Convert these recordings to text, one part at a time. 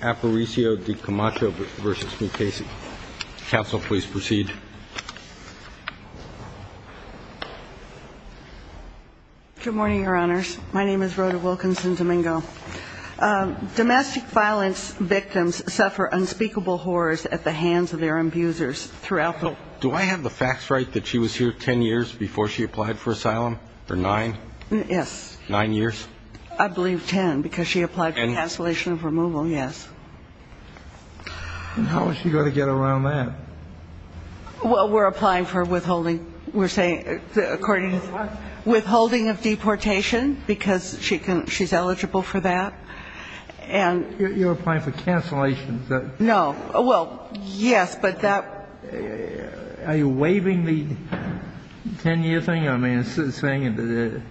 Aparicio De Camacho v. Mukasey. Counsel, please proceed. Good morning, Your Honors. My name is Rhoda Wilkinson Domingo. Domestic violence victims suffer unspeakable horrors at the hands of their abusers throughout the- Do I have the facts right that she was here ten years before she applied for asylum, or nine? Yes. Nine years? I believe ten, because she applied for cancellation of removal, yes. And how is she going to get around that? Well, we're applying for withholding. We're saying, according to- What? Withholding of deportation, because she's eligible for that. And- You're applying for cancellation. Is that- No. Well, yes, but that- Are you waiving the ten-year thing? I mean, you're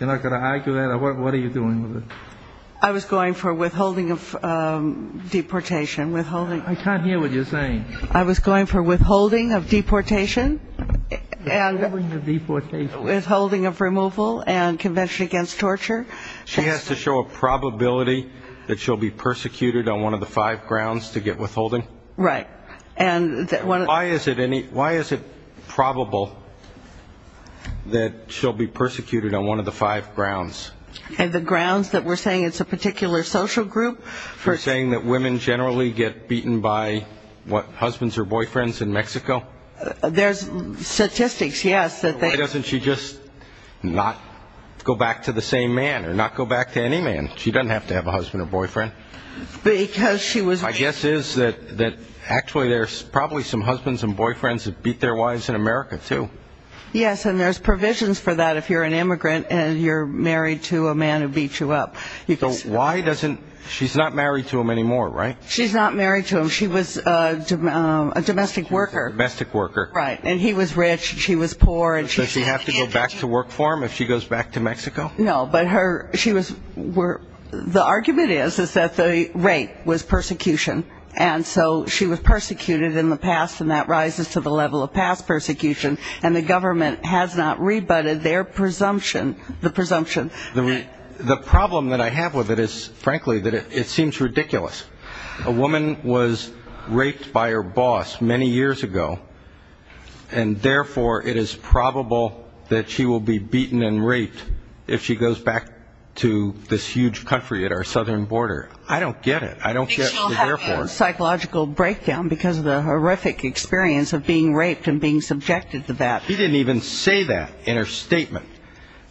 not going to argue that? What are you doing with it? I was going for withholding of deportation. Withholding- I can't hear what you're saying. I was going for withholding of deportation and- Withholding of deportation. Withholding of removal and convention against torture. She has to show a probability that she'll be persecuted on one of the five grounds to get withholding? Right. And- Why is it probable that she'll be persecuted on one of the five grounds? And the grounds that we're saying it's a particular social group? You're saying that women generally get beaten by, what, husbands or boyfriends in Mexico? There's statistics, yes, that they- Why doesn't she just not go back to the same man or not go back to any man? She doesn't have to have a husband or boyfriend. Because she was- The guess is that actually there's probably some husbands and boyfriends that beat their wives in America, too. Yes, and there's provisions for that if you're an immigrant and you're married to a man who beat you up. So why doesn't- she's not married to him anymore, right? She's not married to him. She was a domestic worker. Domestic worker. Right. And he was rich, she was poor, and she- Does she have to go back to work for him if she goes back to Mexico? No, but her- she was- the argument is that the rape was persecution. And so she was persecuted in the past, and that rises to the level of past persecution. And the government has not rebutted their presumption- the presumption- The problem that I have with it is, frankly, that it seems ridiculous. A woman was raped by her boss many years ago. And therefore, it is probable that she will be beaten and raped if she goes back to this huge country at our southern border. I don't get it. I don't get the therefore. She'll have a psychological breakdown because of the horrific experience of being raped and being subjected to that. She didn't even say that in her statement.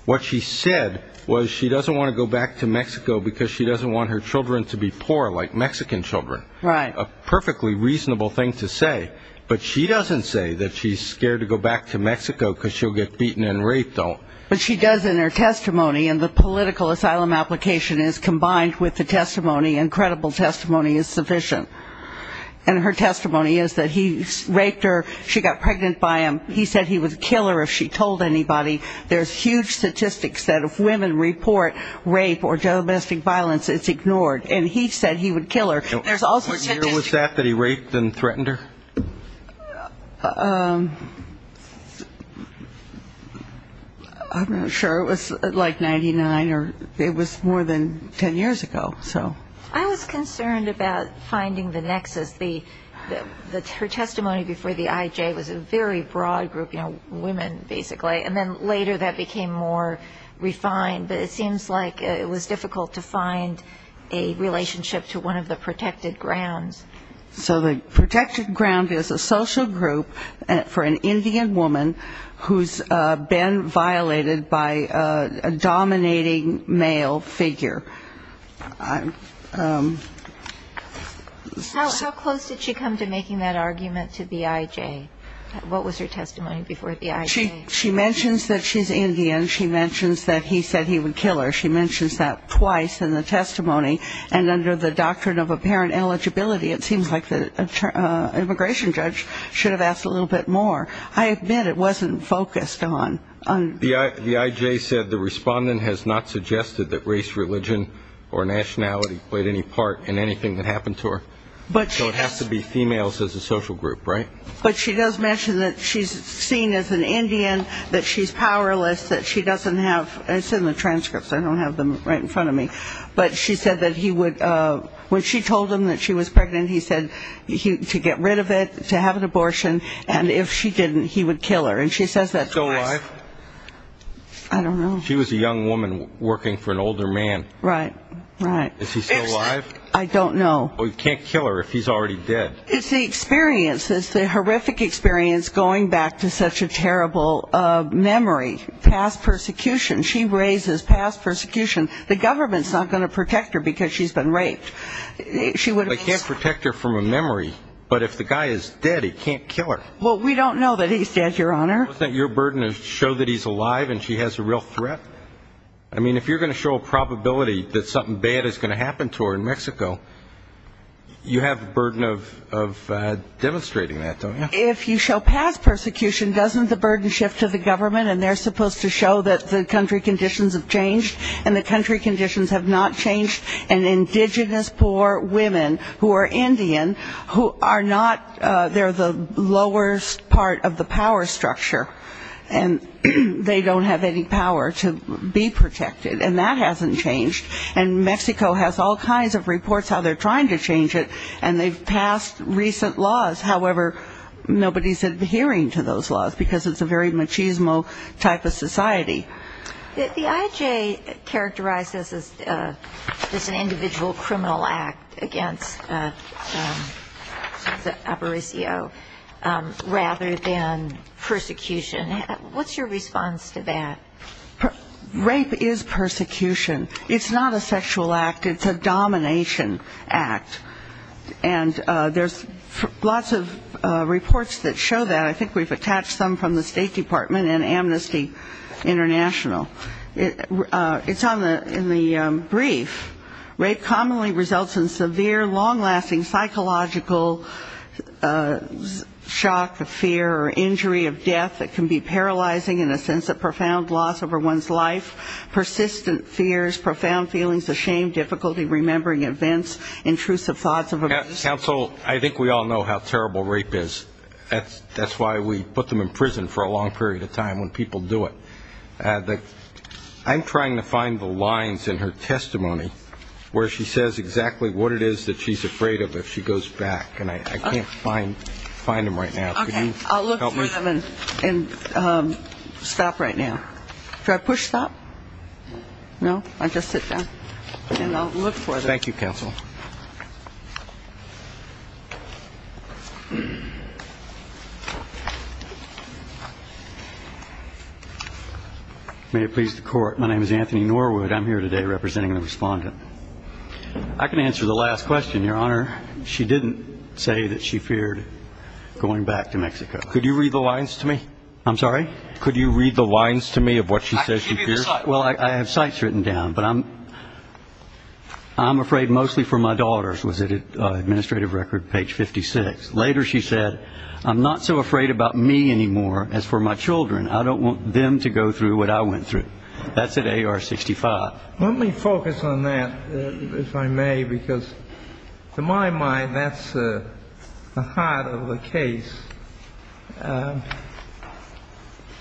What she said was she doesn't want to go back to Mexico because she doesn't want her children to be poor like Mexican children. Right. That's a perfectly reasonable thing to say. But she doesn't say that she's scared to go back to Mexico because she'll get beaten and raped, though. But she does in her testimony, and the political asylum application is combined with the testimony, and credible testimony is sufficient. And her testimony is that he raped her. She got pregnant by him. He said he would kill her if she told anybody. There's huge statistics that if women report rape or domestic violence, it's ignored. And he said he would kill her. Was that the year that he raped and threatened her? I'm not sure. It was like 1999, or it was more than ten years ago. I was concerned about finding the nexus. Her testimony before the IJ was a very broad group, you know, women, basically. And then later that became more refined. But it seems like it was difficult to find a relationship to one of the protected grounds. So the protected ground is a social group for an Indian woman who's been violated by a dominating male figure. How close did she come to making that argument to the IJ? What was her testimony before the IJ? She mentions that she's Indian. She mentions that he said he would kill her. She mentions that twice in the testimony. And under the doctrine of apparent eligibility, it seems like the immigration judge should have asked a little bit more. I admit it wasn't focused on. The IJ said the respondent has not suggested that race, religion, or nationality played any part in anything that happened to her. So it has to be females as a social group, right? But she does mention that she's seen as an Indian, that she's powerless, that she doesn't have, it's in the transcripts. I don't have them right in front of me. But she said that he would, when she told him that she was pregnant, he said to get rid of it, to have an abortion, and if she didn't, he would kill her. And she says that twice. Is he still alive? I don't know. She was a young woman working for an older man. Right, right. Is he still alive? I don't know. Well, you can't kill her if he's already dead. It's the experience. It's the horrific experience going back to such a terrible memory, past persecution. She raises past persecution. The government's not going to protect her because she's been raped. They can't protect her from a memory. But if the guy is dead, he can't kill her. Well, we don't know that he's dead, Your Honor. Doesn't your burden show that he's alive and she has a real threat? I mean, if you're going to show a probability that something bad is going to happen to her in Mexico, you have the burden of demonstrating that, don't you? If you show past persecution, doesn't the burden shift to the government and they're supposed to show that the country conditions have changed? And the country conditions have not changed. And indigenous poor women who are Indian, who are not the lowest part of the power structure, and they don't have any power to be protected, and that hasn't changed. And Mexico has all kinds of reports how they're trying to change it, and they've passed recent laws. However, nobody's adhering to those laws because it's a very machismo type of society. The IJ characterizes this as an individual criminal act against Abaricio rather than persecution. What's your response to that? Rape is persecution. It's not a sexual act, it's a domination act. And there's lots of reports that show that. I think we've attached some from the State Department and Amnesty International. It's in the brief. Rape commonly results in severe, long-lasting psychological shock or fear or injury of death that can be paralyzing in a sense of profound loss over one's life. Persistent fears, profound feelings of shame, difficulty remembering events, intrusive thoughts of abuse. Counsel, I think we all know how terrible rape is. That's why we put them in prison for a long period of time when people do it. I'm trying to find the lines in her testimony where she says exactly what it is that she's afraid of if she goes back. And I can't find them right now. Can you help me? Okay. I'll look through them and stop right now. Should I push stop? No? I'll just sit down and I'll look for them. Thank you, Counsel. May it please the Court, my name is Anthony Norwood. I'm here today representing the Respondent. I can answer the last question, Your Honor. She didn't say that she feared going back to Mexico. Could you read the lines to me? I'm sorry? Could you read the lines to me of what she says she fears? Well, I have cites written down. But I'm afraid mostly for my daughters, was it, Administrative Record, page 56. Later she said, I'm not so afraid about me anymore as for my children. I don't want them to go through what I went through. That's at AR 65. Let me focus on that, if I may, because to my mind that's the heart of the case.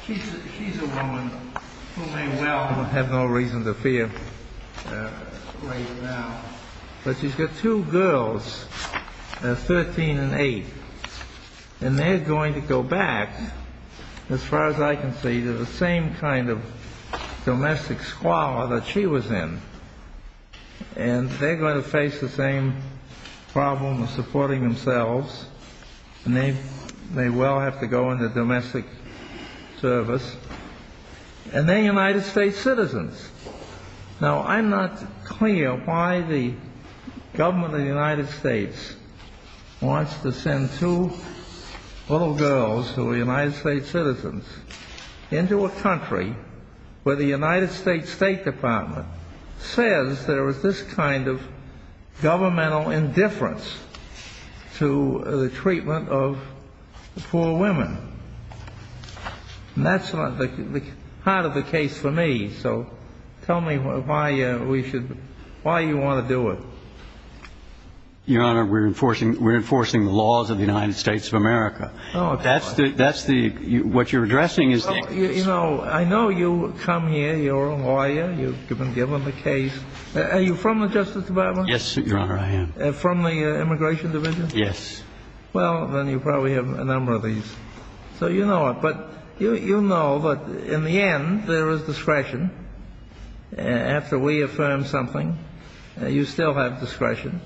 She's a woman who may well have no reason to fear right now. But she's got two girls, 13 and 8, and they're going to go back, as far as I can see, to the same kind of domestic squalor that she was in. And they're going to face the same problem of supporting themselves. And they may well have to go into domestic service. And they're United States citizens. Now, I'm not clear why the government of the United States wants to send two little girls who are United States citizens into a country where the United States State Department says there is this kind of governmental indifference to the treatment of poor women. And that's the heart of the case for me. So tell me why you want to do it. Your Honor, we're enforcing the laws of the United States of America. What you're addressing is that case. I know you come here. You're a lawyer. You've been given the case. Are you from the Justice Department? Yes, Your Honor, I am. From the Immigration Division? Yes. Well, then you probably have a number of these. So you know it. But you know that in the end there is discretion. After we affirm something, you still have discretion.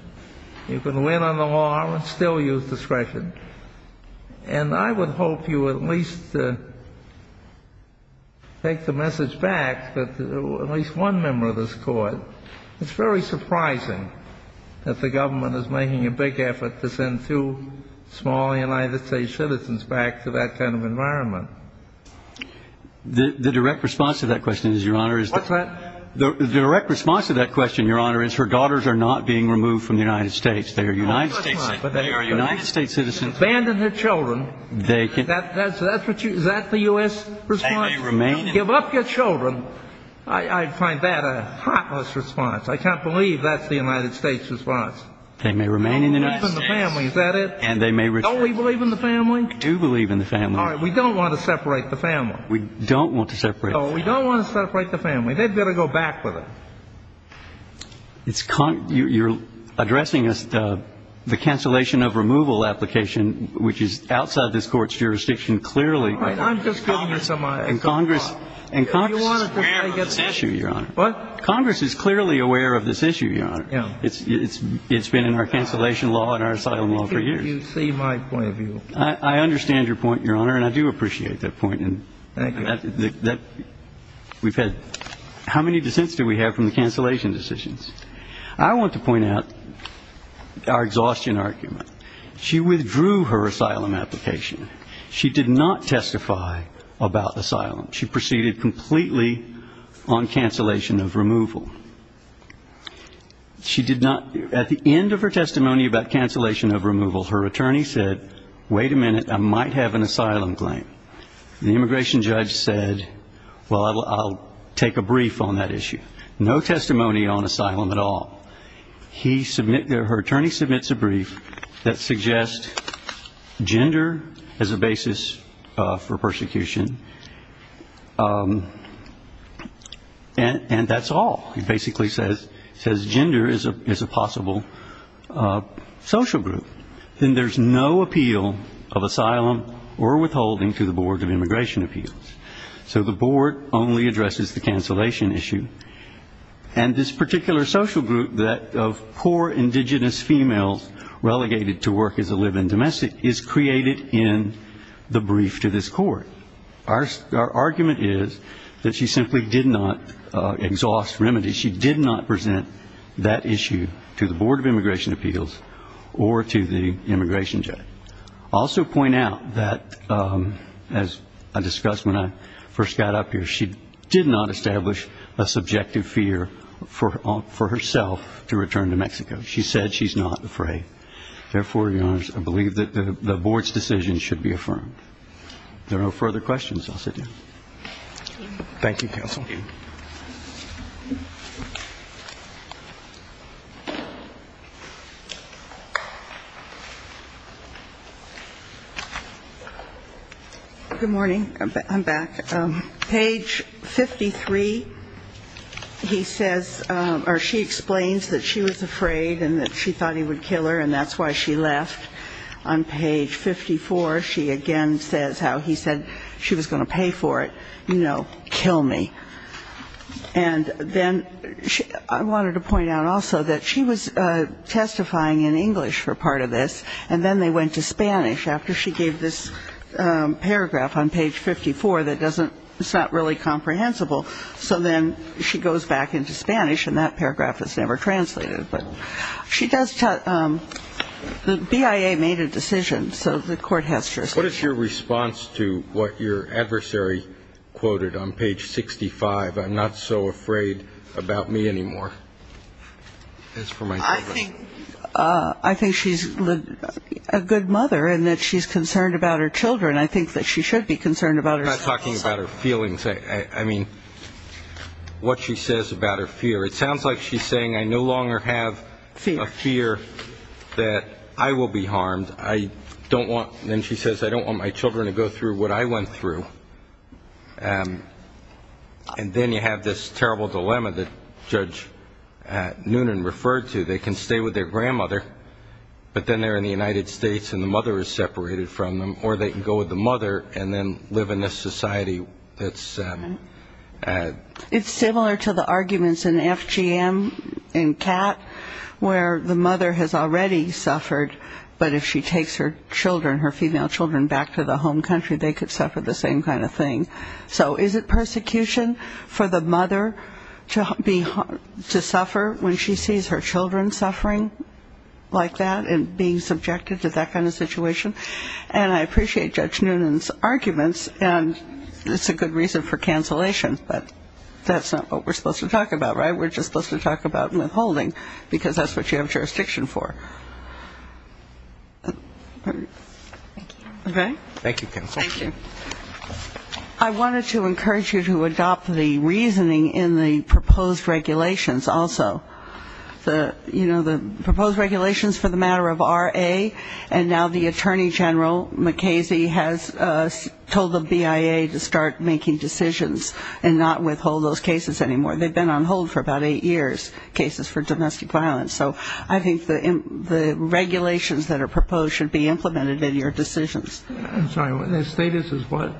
You can win on the law and still use discretion. And I would hope you at least take the message back that at least one member of this Court, it's very surprising that the government is making a big effort to send two small United States citizens back to that kind of environment. The direct response to that question, Your Honor, is her daughters are not being removed from the United States. They are United States citizens. Abandon their children. Is that the U.S. response? They may remain in the United States. Give up your children. I find that a heartless response. I can't believe that's the United States response. They may remain in the United States. Don't believe in the family, is that it? And they may return. Don't we believe in the family? We do believe in the family. All right. We don't want to separate the family. We don't want to separate the family. No, we don't want to separate the family. They'd better go back with it. You're addressing the cancellation of removal application, which is outside this Court's jurisdiction clearly. All right. I'm just giving you some thought. And Congress is aware of this issue, Your Honor. What? Congress is clearly aware of this issue, Your Honor. Yeah. It's been in our cancellation law and our asylum law for years. You see my point of view. I understand your point, Your Honor, and I do appreciate that point. Thank you. We've had how many dissents do we have from the cancellation decisions? I want to point out our exhaustion argument. She withdrew her asylum application. She did not testify about asylum. She proceeded completely on cancellation of removal. She did not. At the end of her testimony about cancellation of removal, her attorney said, wait a minute, I might have an asylum claim. The immigration judge said, well, I'll take a brief on that issue. No testimony on asylum at all. Her attorney submits a brief that suggests gender as a basis for persecution, and that's all. It basically says gender is a possible social group. Then there's no appeal of asylum or withholding to the Board of Immigration Appeals. So the Board only addresses the cancellation issue. And this particular social group of poor indigenous females relegated to work as a live-in domestic is created in the brief to this court. Our argument is that she simply did not exhaust remedies. She did not present that issue to the Board of Immigration Appeals or to the immigration judge. I'll also point out that, as I discussed when I first got up here, she did not establish a subjective fear for herself to return to Mexico. She said she's not afraid. Therefore, Your Honors, I believe that the Board's decision should be affirmed. If there are no further questions, I'll sit down. Thank you, counsel. Good morning. I'm back. Page 53, he says or she explains that she was afraid and that she thought he would kill her, and that's why she left. On page 54, she again says how he said she was going to pay for it. You know, kill me. And then I wanted to point out also that she was testifying in English for part of this, and then they went to Spanish after she gave this paragraph on page 54 that doesn't, it's not really comprehensible. So then she goes back into Spanish, and that paragraph is never translated. But she does tell, the BIA made a decision, so the court has to respect that. What is your response to what your adversary quoted on page 65, I'm not so afraid about me anymore? I think she's a good mother and that she's concerned about her children. I think that she should be concerned about herself. I'm not talking about her feelings. I mean what she says about her fear. It sounds like she's saying I no longer have a fear that I will be harmed. I don't want, then she says I don't want my children to go through what I went through. And then you have this terrible dilemma that Judge Noonan referred to. They can stay with their grandmother, but then they're in the United States and the mother is separated from them, or they can go with the mother and then live in this society that's. It's similar to the arguments in FGM and CAT where the mother has already suffered, but if she takes her children, her female children back to the home country, they could suffer the same kind of thing. So is it persecution for the mother to suffer when she sees her children suffering like that and being subjected to that kind of situation? And I appreciate Judge Noonan's arguments. And it's a good reason for cancellation, but that's not what we're supposed to talk about, right? We're just supposed to talk about withholding because that's what you have jurisdiction for. Okay? Thank you, counsel. Thank you. I wanted to encourage you to adopt the reasoning in the proposed regulations also. You know, the proposed regulations for the matter of R.A. and now the Attorney General MacCasey has told the BIA to start making decisions and not withhold those cases anymore. They've been on hold for about eight years, cases for domestic violence. So I think the regulations that are proposed should be implemented in your decisions. I'm sorry. The status is what?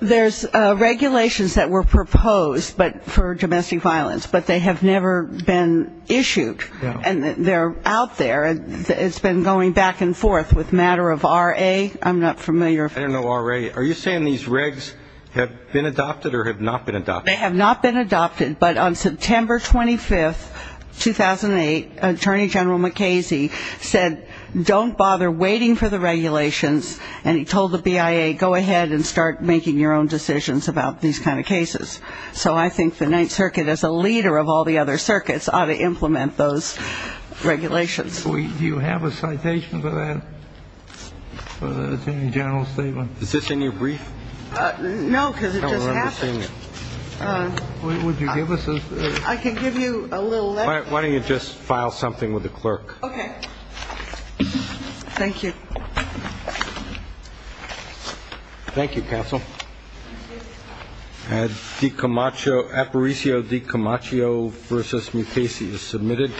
There's regulations that were proposed for domestic violence, but they have never been issued. And they're out there. It's been going back and forth with matter of R.A. I'm not familiar. I don't know R.A. Are you saying these regs have been adopted or have not been adopted? They have not been adopted, but on September 25th, 2008, Attorney General MacCasey said, don't bother waiting for the regulations, and he told the BIA, go ahead and start making your own decisions about these kind of cases. So I think the Ninth Circuit, as a leader of all the other circuits, ought to implement those regulations. Do you have a citation for that, for the Attorney General's statement? Is this in your brief? No, because it just happened. Would you give us a? I can give you a little letter. Why don't you just file something with the clerk? Okay. Thank you. Thank you, Counsel. Aparicio Di Camaccio v. MacCasey is submitted.